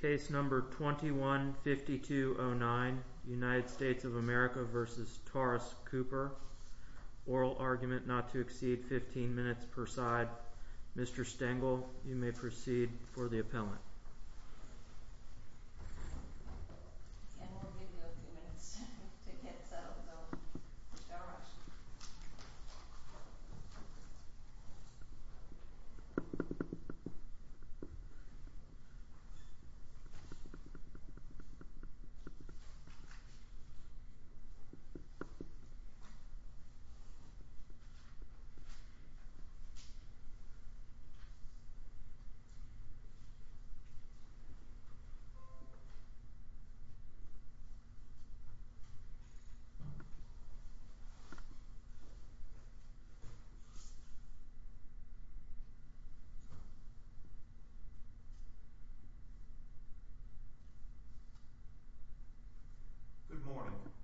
Case number 21-5209, United States of America v. Taurus Cooper. Oral argument not to exceed 15 minutes per side. Mr. Stengel, you may proceed for the appellant. Mr. Stengel, you may proceed for the appellant. Good morning.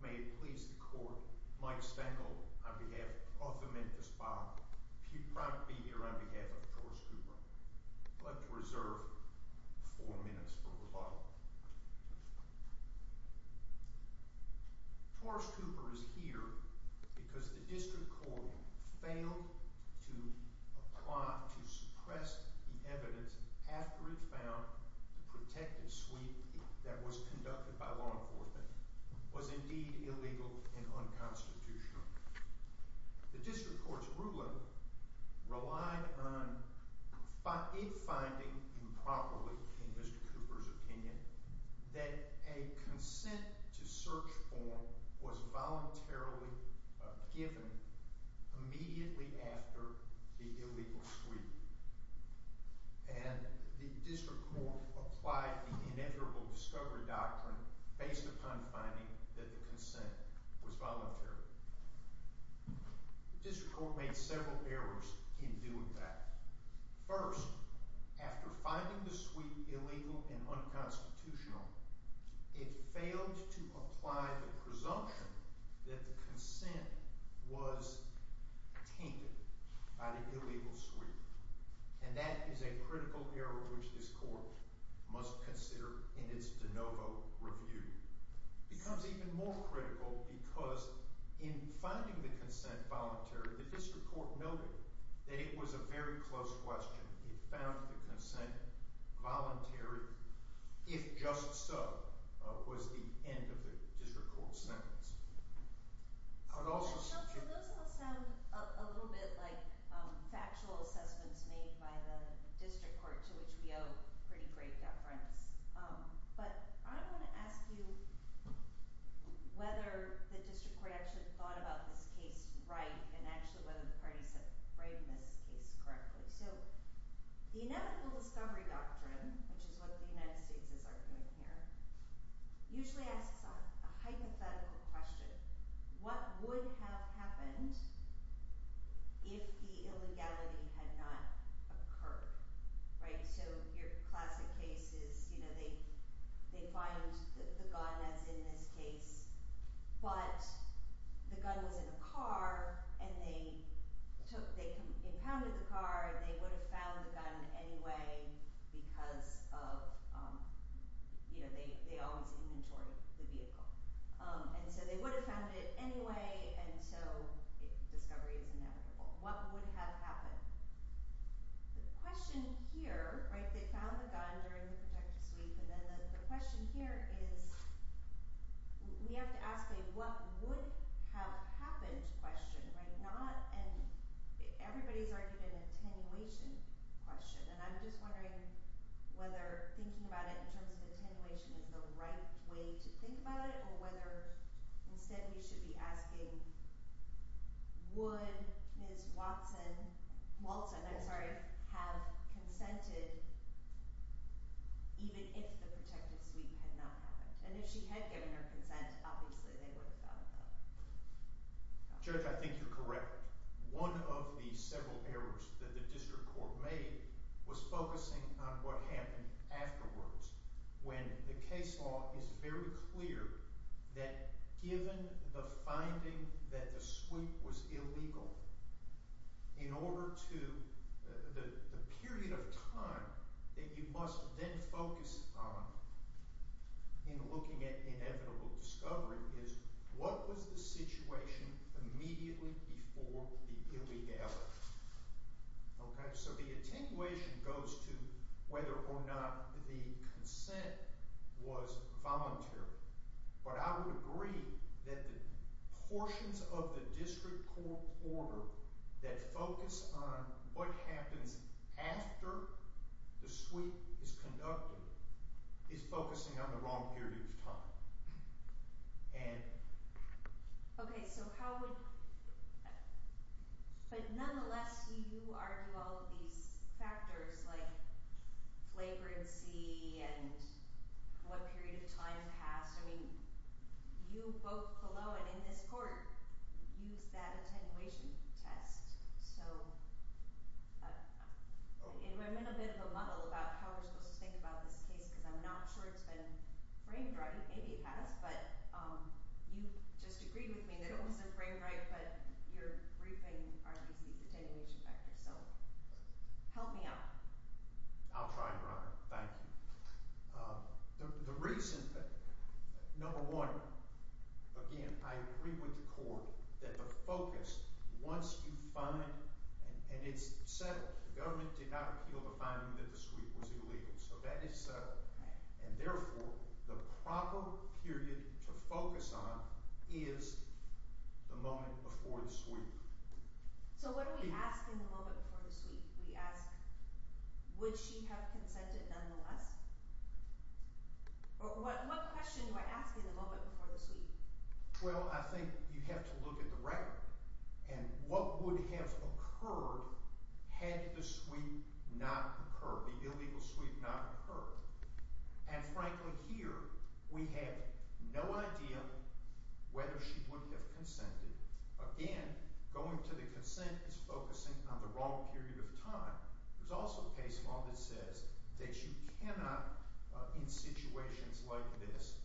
May it please the court, Mike Stengel on behalf of the Memphis Bar. Proud to be here on behalf of Taurus Cooper. I'd like to reserve four minutes for rebuttal. Taurus Cooper is here because the district court failed to apply to suppress the evidence after it found the protective sweep that was conducted by law enforcement was indeed illegal and unconstitutional. The district court's ruling relied on it finding improperly in Mr. Cooper's opinion that a consent to search form was voluntarily given immediately after the illegal sweep. And the district court applied the inevitable discovery doctrine based upon finding that the consent was voluntary. The district court made several errors in doing that. First, after finding the sweep illegal and unconstitutional, it failed to apply the presumption that the consent was tainted by the illegal sweep. And that is a critical error which this court must consider in its de novo review. It becomes even more critical because in finding the consent voluntary, the district court noted that it was a very close question. It found the consent voluntary. If just so, was the end of the district court's sentence. Those all sound a little bit like factual assessments made by the district court, to which we owe pretty great deference. But I want to ask you whether the district court actually thought about this case right and actually whether the parties have framed this case correctly. So the inevitable discovery doctrine, which is what the United States is arguing here, usually asks a hypothetical question. What would have happened if the illegality had not occurred, right? So your classic case is, you know, they find the gun as in this case, but the gun was in a car and they impounded the car and they would have found the gun anyway because of, you know, they always inventory the vehicle. And so they would have found it anyway, and so discovery is inevitable. What would have happened? The question here, right, they found the gun during the protective sweep, and then the question here is we have to ask a what would have happened question, right, not an everybody's argued an attenuation question. And I'm just wondering whether thinking about it in terms of attenuation is the right way to think about it even if the protective sweep had not happened. And if she had given her consent, obviously they would have found the gun. Judge, I think you're correct. One of the several errors that the district court made was focusing on what happened afterwards when the case law is very clear that given the finding that the sweep was illegal, in order to the period of time that you must then focus on in looking at inevitable discovery is what was the situation immediately before the illegality. Okay, so the attenuation goes to whether or not the consent was voluntary. But I would agree that the portions of the district court order that focus on what happens after the sweep is conducted is focusing on the wrong period of time. Ann? Okay, so how would – but nonetheless, you argue all of these factors like flagrancy and what period of time passed. I mean, you both below and in this court used that attenuation test. So I'm in a bit of a muddle about how we're supposed to think about this case because I'm not sure it's been framed right. Maybe it has, but you just agreed with me that it wasn't framed right, but your briefing argues these attenuation factors. So help me out. I'll try, Your Honor. Thank you. The reason – number one, again, I agree with the court that the focus, once you find – and it's settled, the government did not appeal the finding that the sweep was illegal. So that is settled. And therefore, the proper period to focus on is the moment before the sweep. So what are we asking the moment before the sweep? We ask would she have consented nonetheless? Or what question do I ask in the moment before the sweep? Well, I think you have to look at the record and what would have occurred had the sweep not occurred, the illegal sweep not occurred. And, frankly, here we have no idea whether she would have consented. Again, going to the consent is focusing on the wrong period of time. There's also a case law that says that you cannot, in situations like this,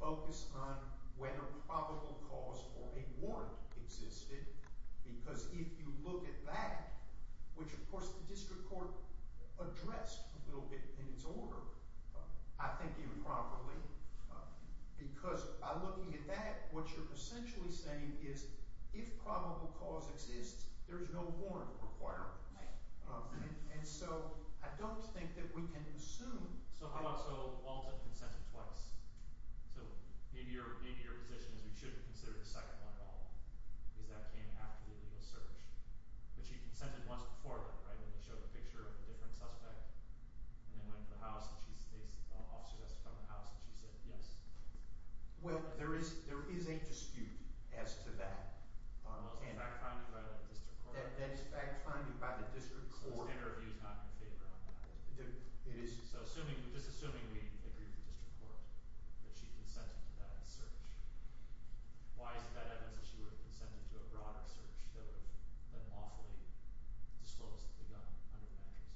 focus on whether probable cause or a warrant existed because if you look at that, which, of course, the district court addressed a little bit in its order, I think you would probably – because by looking at that, what you're essentially saying is if probable cause exists, there's no warrant requirement. And so I don't think that we can assume – So how about – so Walter consented twice. So maybe your position is we should have considered the second one at all because that came after the illegal search. But she consented once before that, right, when you showed the picture of the different suspect and then went to the house and she – officers asked to come to the house and she said yes. Well, there is a dispute as to that. Well, it's fact-finding by the district court. That is fact-finding by the district court. This interview is not in favor of that. It is. So just assuming we agree with the district court that she consented to that search, why is it that evidence that she would have consented to a broader search that would have been lawfully disclosed to the government under the matters?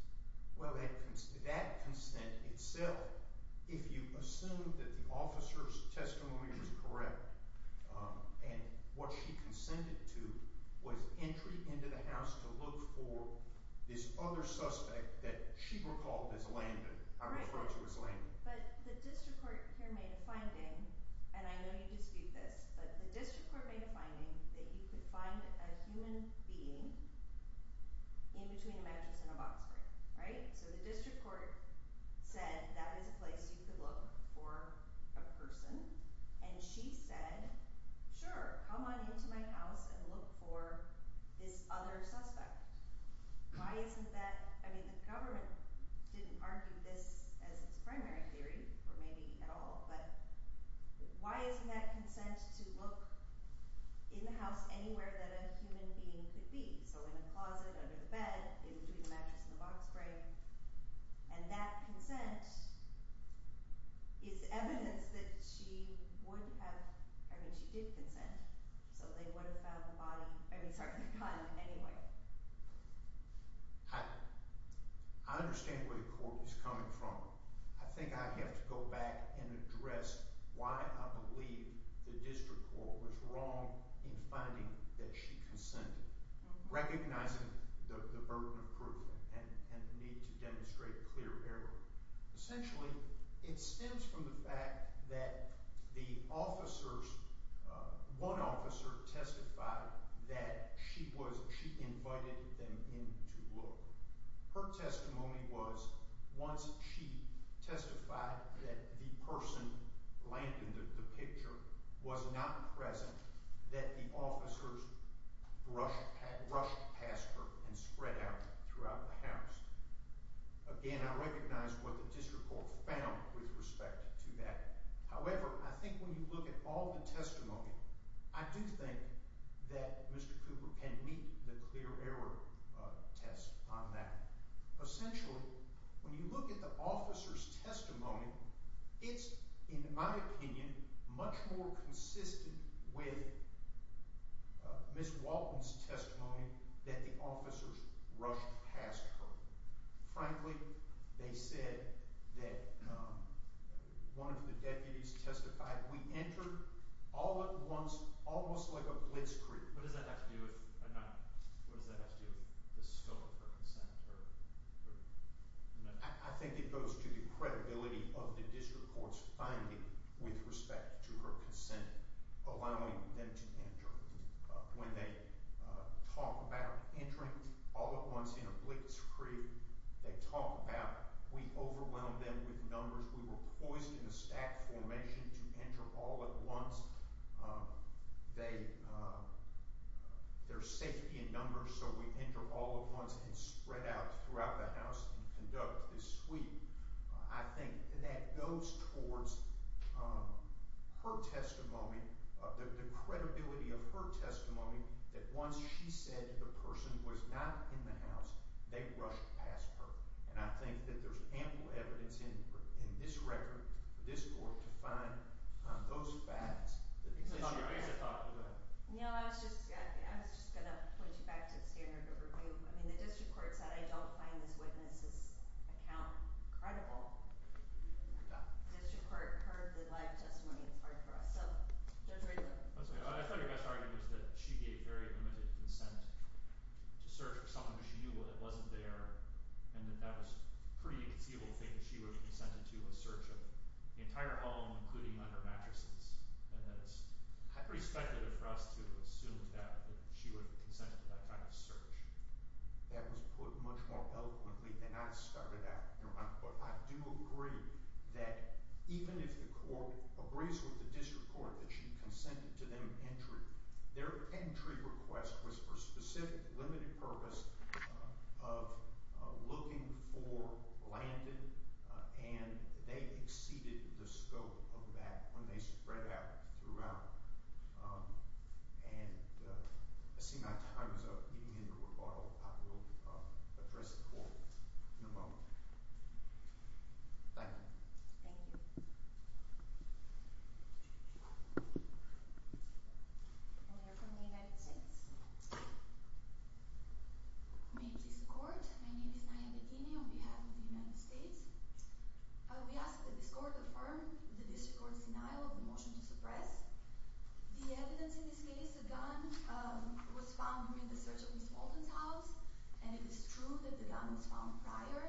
Well, that consent itself, if you assume that the officer's testimony was correct and what she consented to was entry into the house to look for this other suspect that she recalled as Landon, I refer to as Landon. But the district court here made a finding, and I know you dispute this, but the district court made a finding that you could find a human being in between a mattress and a box frame, right? So the district court said that is a place you could look for a person, and she said, sure, come on into my house and look for this other suspect. Why isn't that – I mean the government didn't argue this as its primary theory, or maybe at all, but why isn't that consent to look in the house anywhere that a human being could be? So in a closet, under the bed, in between the mattress and the box frame, and that consent is evidence that she would have – I mean she did consent, so they would have found the body – I mean, sorry, the gun anyway. I understand where the court is coming from. I think I have to go back and address why I believe the district court was wrong in finding that she consented, recognizing the burden of proof and the need to demonstrate clear error. Essentially, it stems from the fact that the officers – one officer testified that she was – she invited them in to look. Her testimony was once she testified that the person laying in the picture was not present, that the officers rushed past her and spread out throughout the house. Again, I recognize what the district court found with respect to that. However, I think when you look at all the testimony, I do think that Mr. Cooper can meet the clear error test on that. Essentially, when you look at the officer's testimony, it's, in my opinion, much more consistent with Ms. Walton's testimony that the officers rushed past her. Frankly, they said that one of the deputies testified, we entered all at once almost like a blitzkrieg. What does that have to do with – what does that have to do with the scope of her consent? I think it goes to the credibility of the district court's finding with respect to her consent, allowing them to enter. When they talk about entering all at once in a blitzkrieg, they talk about we overwhelmed them with numbers. We were poised in a stacked formation to enter all at once. There's safety in numbers, so we enter all at once and spread out throughout the house and conduct this sweep. I think that goes towards her testimony, the credibility of her testimony, that once she said the person was not in the house, they rushed past her. I think that there's ample evidence in this record for this court to find those facts. I guess I thought – go ahead. I was just going to point you back to the standard of review. The district court said I don't find this witness's account credible. The district court heard the live testimony. It's hard for us. Judge Riedel. I thought your best argument was that she gave very limited consent to search for someone she knew that wasn't there and that that was a pretty inconceivable thing that she would have consented to a search of the entire home, including on her mattresses, and that it's pretty speculative for us to assume that she would have consented to that kind of search. That was put much more eloquently than I started out. But I do agree that even if the court agrees with the district court that she consented to them entering, their entry request was for a specific, limited purpose of looking for Blanton, and they exceeded the scope of that when they spread out throughout. And I see my time is up. If you need a rebuttal, I will address the court in a moment. Thank you. Thank you. A lawyer from the United States. May it please the court, my name is Naya Bedini on behalf of the United States. We ask that this court affirm the district court's denial of the motion to suppress. The evidence in this case, the gun was found during the search of Ms. Blanton's house, and it is true that the gun was found prior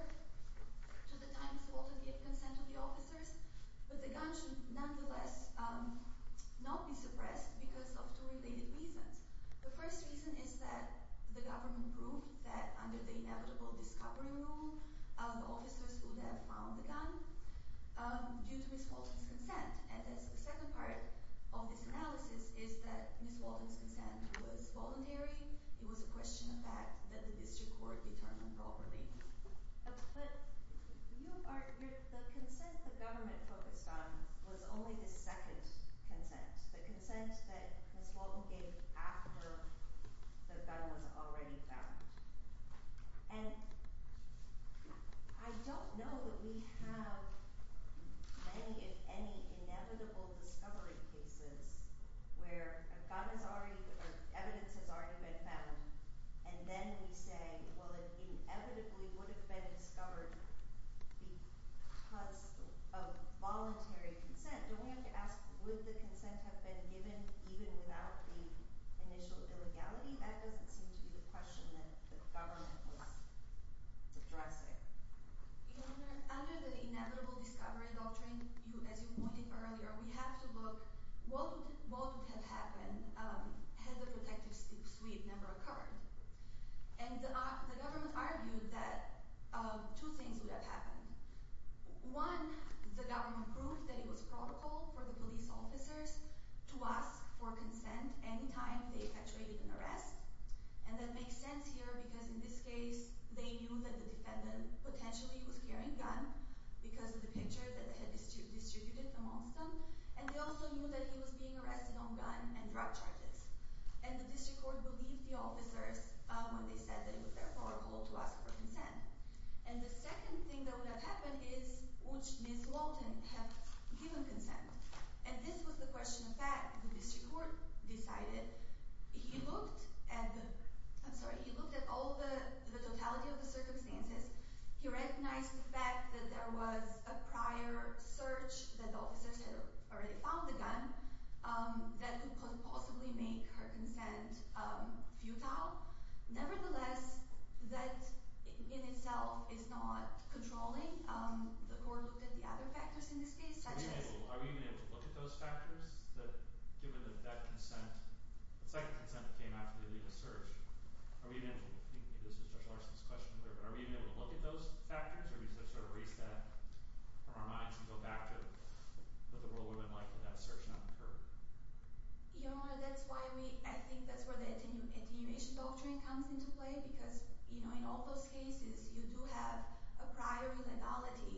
to the time Ms. Blanton gave consent to the officers, but the gun should nonetheless not be suppressed because of two related reasons. The first reason is that the government proved that under the inevitable discovery rule, the officers would have found the gun due to Ms. Blanton's consent. And the second part of this analysis is that Ms. Blanton's consent was voluntary. It was a question of fact that the district court determined properly. But the consent the government focused on was only the second consent, the consent that Ms. Blanton gave after the gun was already found. And I don't know that we have many, if any, inevitable discovery cases where a gun is already or evidence has already been found, and then we say, well, it inevitably would have been discovered because of voluntary consent. Don't we have to ask, would the consent have been given even without the initial illegality? That doesn't seem to be the question that the government was addressing. Under the inevitable discovery doctrine, as you pointed out earlier, we have to look what would have happened had the protective suite never occurred. And the government argued that two things would have happened. One, the government proved that it was probable for the police officers to ask for consent any time they perpetrated an arrest, and that makes sense here because in this case they knew that the defendant potentially was carrying a gun because of the picture that they had distributed amongst them, and they also knew that he was being arrested on gun and drug charges. And the district court believed the officers when they said that it was therefore probable to ask for consent. And the second thing that would have happened is which Ms. Blanton had given consent. And this was the question of fact. The district court decided. He looked at the – I'm sorry. He looked at all the totality of the circumstances. He recognized the fact that there was a prior search, that the officers had already found the gun, that could possibly make her consent futile. Nevertheless, that in itself is not controlling. The court looked at the other factors in this case, such as – Are we even able to look at those factors that given that that consent – the second consent came after the legal search. Are we even able to look at those factors or do we sort of erase that from our minds and go back to what the rule would have been like if that search had not occurred? Your Honor, that's why we – I think that's where the attenuation doctrine comes into play because in all those cases you do have a prior legality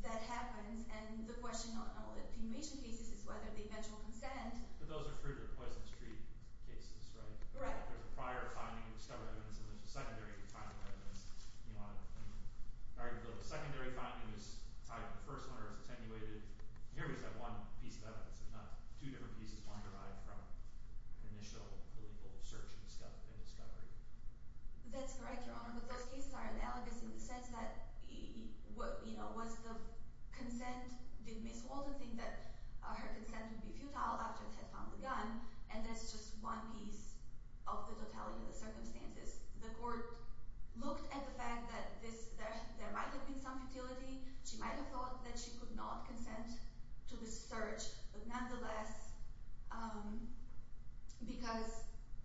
that happens. And the question on all the attenuation cases is whether the eventual consent – But those are for the Poison Street cases, right? There's a prior finding of discovered evidence and there's a secondary finding of evidence. The secondary finding is tied to the first one or is attenuated. Here we just have one piece of evidence. There's not two different pieces. One derived from an initial legal search and discovery. That's correct, Your Honor. But those cases are analogous in the sense that was the consent – she was told to think that her consent would be futile after it had found the gun, and that's just one piece of the totality of the circumstances. The court looked at the fact that there might have been some futility. She might have thought that she could not consent to the search. But nonetheless, because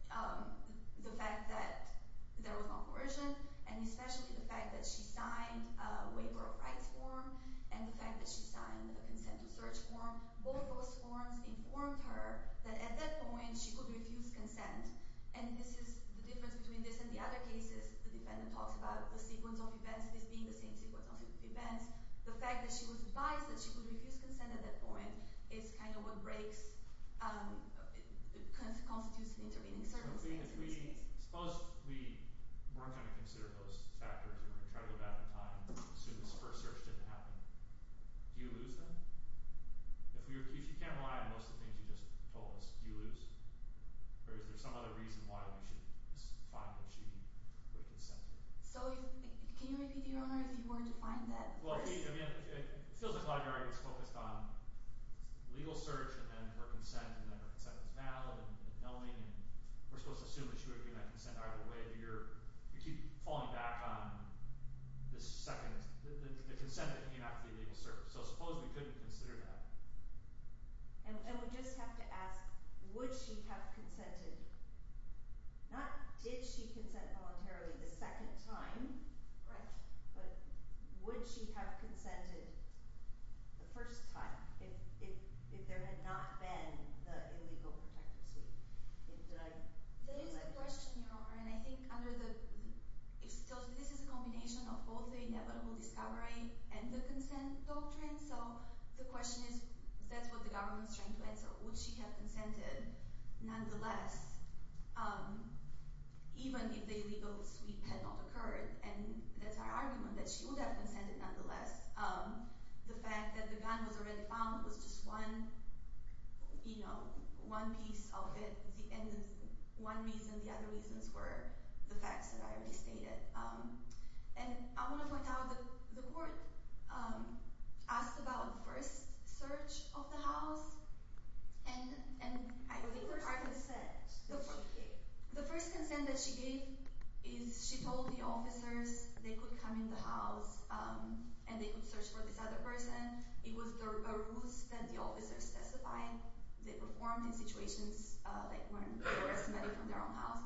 the fact that there was no coercion and especially the fact that she signed a waiver of rights form and the fact that she signed a consent to search form, both those forms informed her that at that point she could refuse consent. And this is the difference between this and the other cases. The defendant talks about the sequence of events, this being the same sequence of events. The fact that she was advised that she could refuse consent at that point is kind of what breaks – constitutes an intervening circumstance in this case. So if we – suppose we weren't going to consider those factors and we were going to try to go back in time and assume this first search didn't happen. Do you lose then? If you can't rely on most of the things you just told us, do you lose? Or is there some other reason why we should find that she would have consented? So can you repeat the owner if you were to find that? Well, I mean it feels like a lot of your argument is focused on legal search and then her consent and then her consent is valid and knowing and we're supposed to assume that she would have given that consent either way. But you're – you keep falling back on the second – the consent that came after the legal search. So suppose we couldn't consider that. And we just have to ask, would she have consented? Not did she consent voluntarily the second time. Right. But would she have consented the first time if there had not been the illegal protective suite? That is the question, Your Honor, and I think under the – this is a combination of both the inevitable discovery and the consent doctrine. So the question is that's what the government is trying to answer. Would she have consented nonetheless even if the illegal suite had not occurred? And that's our argument that she would have consented nonetheless. The fact that the gun was already found was just one, you know, one piece of it. And one reason, the other reasons were the facts that I already stated. And I want to point out that the court asked about the first search of the house. And I think the first – What was the first consent that she gave? The first consent that she gave is she told the officers they could come in the house and they could search for this other person. It was a ruse that the officers testified. They performed in situations that weren't forestimated from their own house.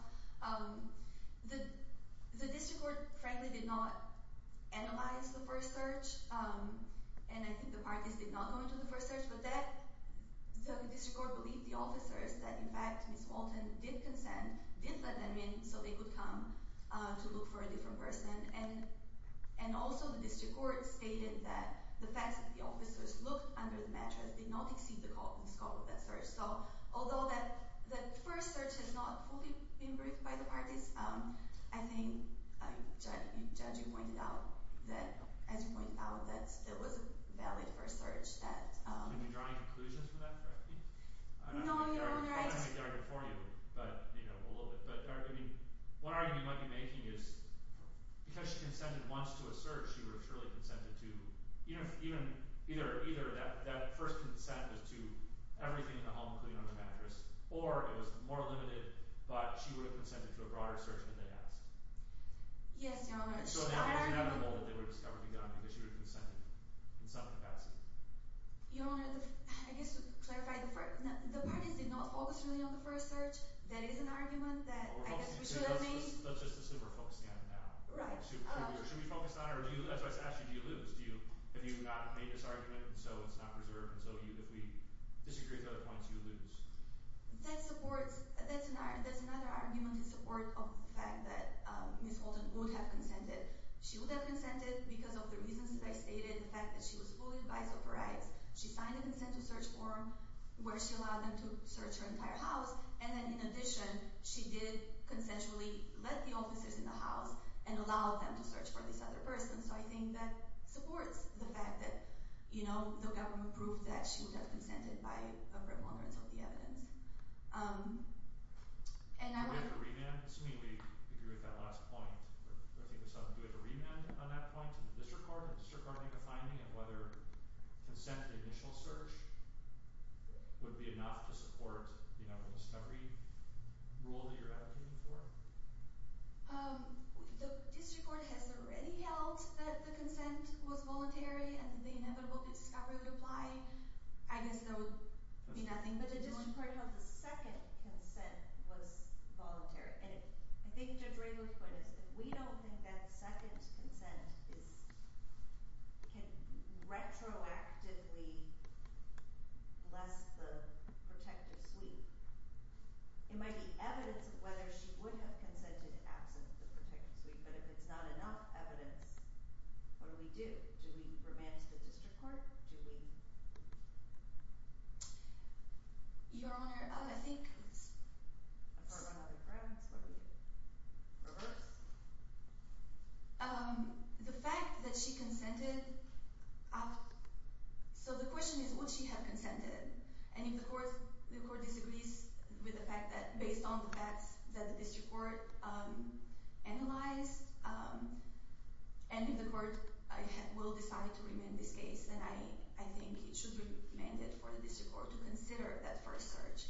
The district court, frankly, did not analyze the first search. And I think the parties did not go into the first search. But that – the district court believed the officers that, in fact, Ms. Walton did consent, did let them in so they could come to look for a different person. And also the district court stated that the fact that the officers looked under the mattress did not exceed the scope of that search. So although that first search has not fully been proved by the parties, I think, Judge, you pointed out that – as you pointed out, that there was a valid first search that – Are you drawing conclusions from that, correct me? No, Your Honor, I just – I don't have the argument for you, but, you know, a little bit. But, I mean, one argument you might be making is because she consented once to a search, she would have surely consented to – either that first consent was to everything in the home, including under the mattress, or it was more limited, but she would have consented to a broader search than they asked. Yes, Your Honor, I – So now isn't that the goal that they would discover to be done, because she would have consented in some capacity? Your Honor, I guess to clarify, the parties did not focus really on the first search. That is an argument that I guess we should have made. Well, let's just assume we're focusing on it now. Right. Should we focus on it, or do you – that's why I asked you, do you lose? Do you – if you do not make this argument, and so it's not preserved, and so if we disagree with other points, you lose? That supports – that's another argument in support of the fact that Ms. Holton would have consented. She would have consented because of the reasons that I stated, the fact that she was fully advised of her rights. She signed a consent to search form where she allowed them to search her entire house, and then in addition, she did consensually let the officers in the house and allowed them to search for this other person. So I think that supports the fact that, you know, the government proved that she would have consented by a preponderance of the evidence. And I would – Do we have a remand? I mean, we agree with that last point. I think Ms. Holton, do we have a remand on that point to the district court? Does the district court make a finding of whether consent to the initial search would be enough to support, you know, the discovery rule that you're advocating for? The district court has already held that the consent was voluntary and the inevitable discovery would apply. I guess there would be nothing, but the district court held the second consent was voluntary. I think Judge Ramos' point is if we don't think that second consent is – can retroactively bless the protective suite, it might be evidence of whether she would have consented in absence of the protective suite. But if it's not enough evidence, what do we do? Do we remand to the district court? Do we – Your Honor, I think – Apart from other grounds, what do we do? Reverse? The fact that she consented – So the question is would she have consented? And if the court disagrees with the fact that – based on the facts that the district court analyzed, and if the court will decide to remand this case, then I think it should be remanded for the district court to consider that first search.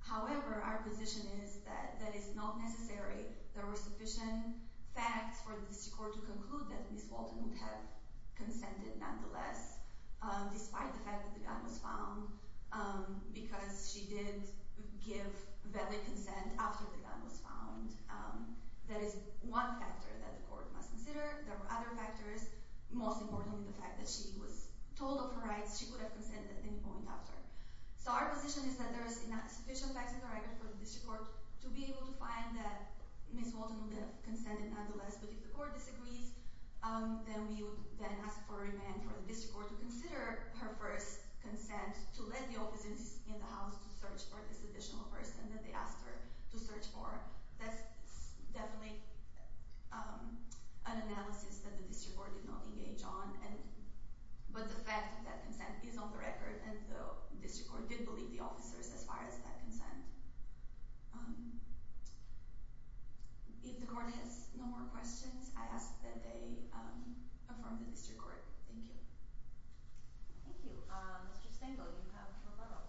However, our position is that that is not necessary. There were sufficient facts for the district court to conclude that Ms. Walton would have consented nonetheless, despite the fact that the gun was found, because she did give valid consent after the gun was found. That is one factor that the court must consider. There are other factors, most importantly the fact that she was told of her rights. She would have consented at any point after. So our position is that there are sufficient facts in the record for the district court to be able to find that Ms. Walton would have consented nonetheless. But if the court disagrees, then we would then ask for a remand for the district court to consider her first consent to let the officers in the house to search for this additional person that they asked her to search for. That's definitely an analysis that the district court did not engage on. But the fact that consent is on the record, and the district court did believe the officers as far as that consent. If the court has no more questions, I ask that they affirm the district court. Thank you. Thank you. Mr. Stengel, you have a roll call.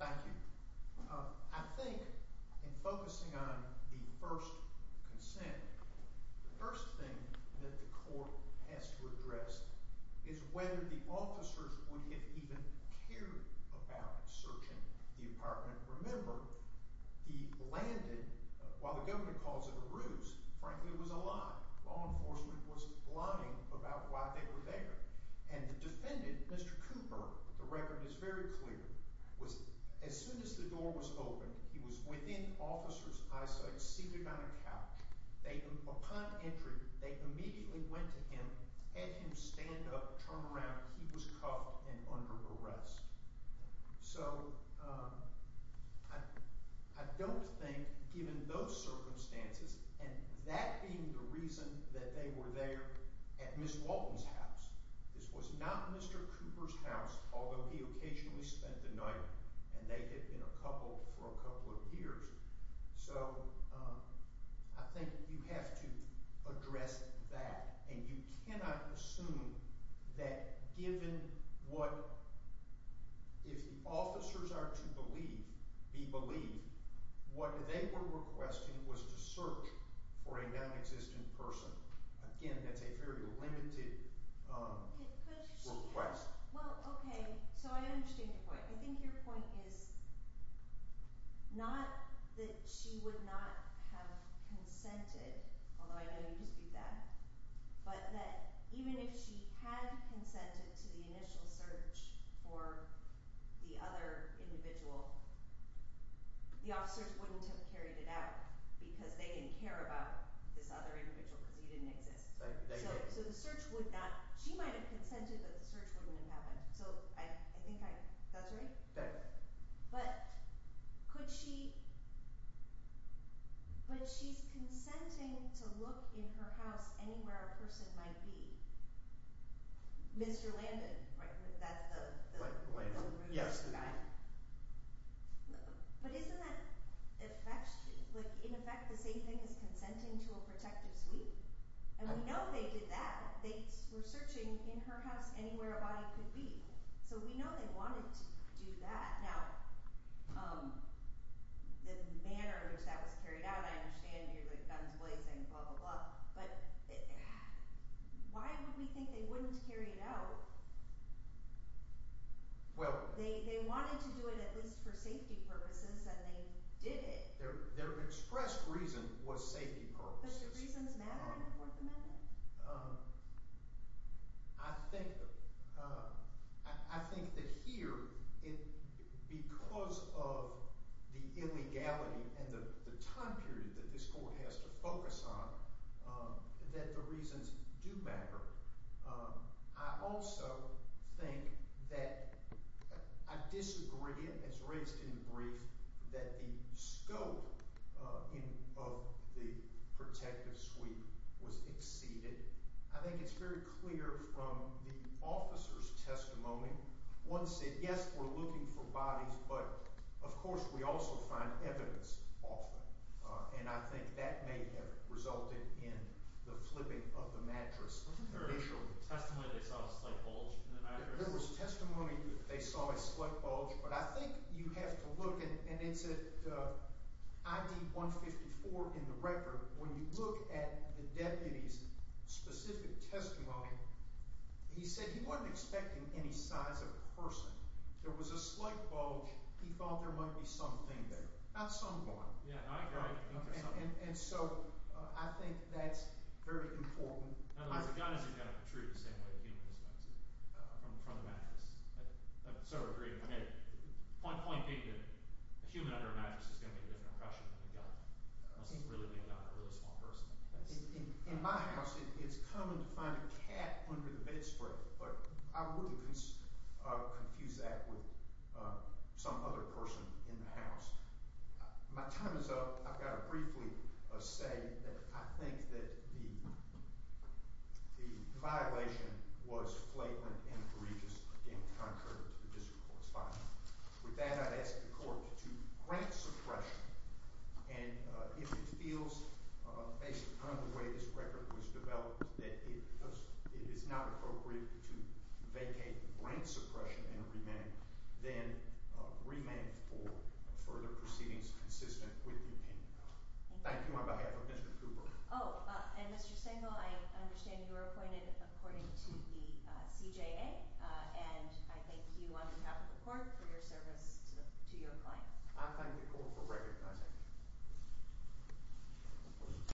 Thank you. I think in focusing on the first consent, the first thing that the court has to address is whether the officers would have even cared about searching the apartment. Remember, the landed, while the governor calls it a ruse, frankly it was a lie. Law enforcement was lying about why they were there. And the defendant, Mr. Cooper, the record is very clear. As soon as the door was opened, he was within officer's eyesight, seated on a couch. Upon entry, they immediately went to him, had him stand up, turn around. He was cuffed and under arrest. So, I don't think, given those circumstances, and that being the reason that they were there at Ms. Walton's house. This was not Mr. Cooper's house, although he occasionally spent the night, and they had been a couple for a couple of years. So, I think you have to address that, and you cannot assume that given what, if the officers are to believe, be believed, what they were requesting was to search for a non-existent person. Again, that's a very limited request. Well, okay. So, I understand your point. I think your point is not that she would not have consented, although I know you dispute that, but that even if she had consented to the initial search for the other individual, the officers wouldn't have carried it out because they didn't care about this other individual because he didn't exist. So, the search would not—she might have consented, but the search wouldn't have happened. So, I think I—that's right? That's right. But could she—but she's consenting to look in her house anywhere a person might be. Mr. Landon, right? That's the— Michael Landon, yes. The guy. But isn't that—in effect, the same thing as consenting to a protective suite? And we know they did that. They were searching in her house anywhere a body could be. So, we know they wanted to do that. Now, the manner in which that was carried out, I understand you're like guns blazing, blah, blah, blah, but why would we think they wouldn't carry it out? Well— They wanted to do it at least for safety purposes, and they did it. Their expressed reason was safety purposes. Does the reasons matter in the Fourth Amendment? I think—I think that here, because of the illegality and the time period that this court has to focus on, that the reasons do matter. I also think that I disagree, as raised in the brief, that the scope of the protective suite was exceeded. I think it's very clear from the officer's testimony. One said, yes, we're looking for bodies, but, of course, we also find evidence often. And I think that may have resulted in the flipping of the mattress initially. There was testimony they saw a slight bulge in the mattress. There was testimony they saw a slight bulge, but I think you have to look, and it's at ID 154 in the record. When you look at the deputy's specific testimony, he said he wasn't expecting any size of a person. There was a slight bulge. He thought there might be something there, not someone. And so I think that's very important. In other words, a gun isn't going to protrude the same way a human is going to, from the mattress. I so agree. Point being that a human under a mattress is going to be a different impression than a gun, unless it's really a gun, a really small person. In my house, it's common to find a cat under the bedspread, but I wouldn't confuse that with some other person in the house. My time is up. I've got to briefly say that I think that the violation was flagrant and egregious, again, contrary to the district court's finding. With that, I'd ask the court to grant suppression, and if it feels, based upon the way this record was developed, that it is not appropriate to vacate grant suppression and then remand for further proceedings consistent with the opinion. Thank you on behalf of Mr. Cooper. Oh, and Mr. Stengel, I understand you were appointed according to the CJA, and I thank you on behalf of the court for your service to your client. I thank the court for recognizing me.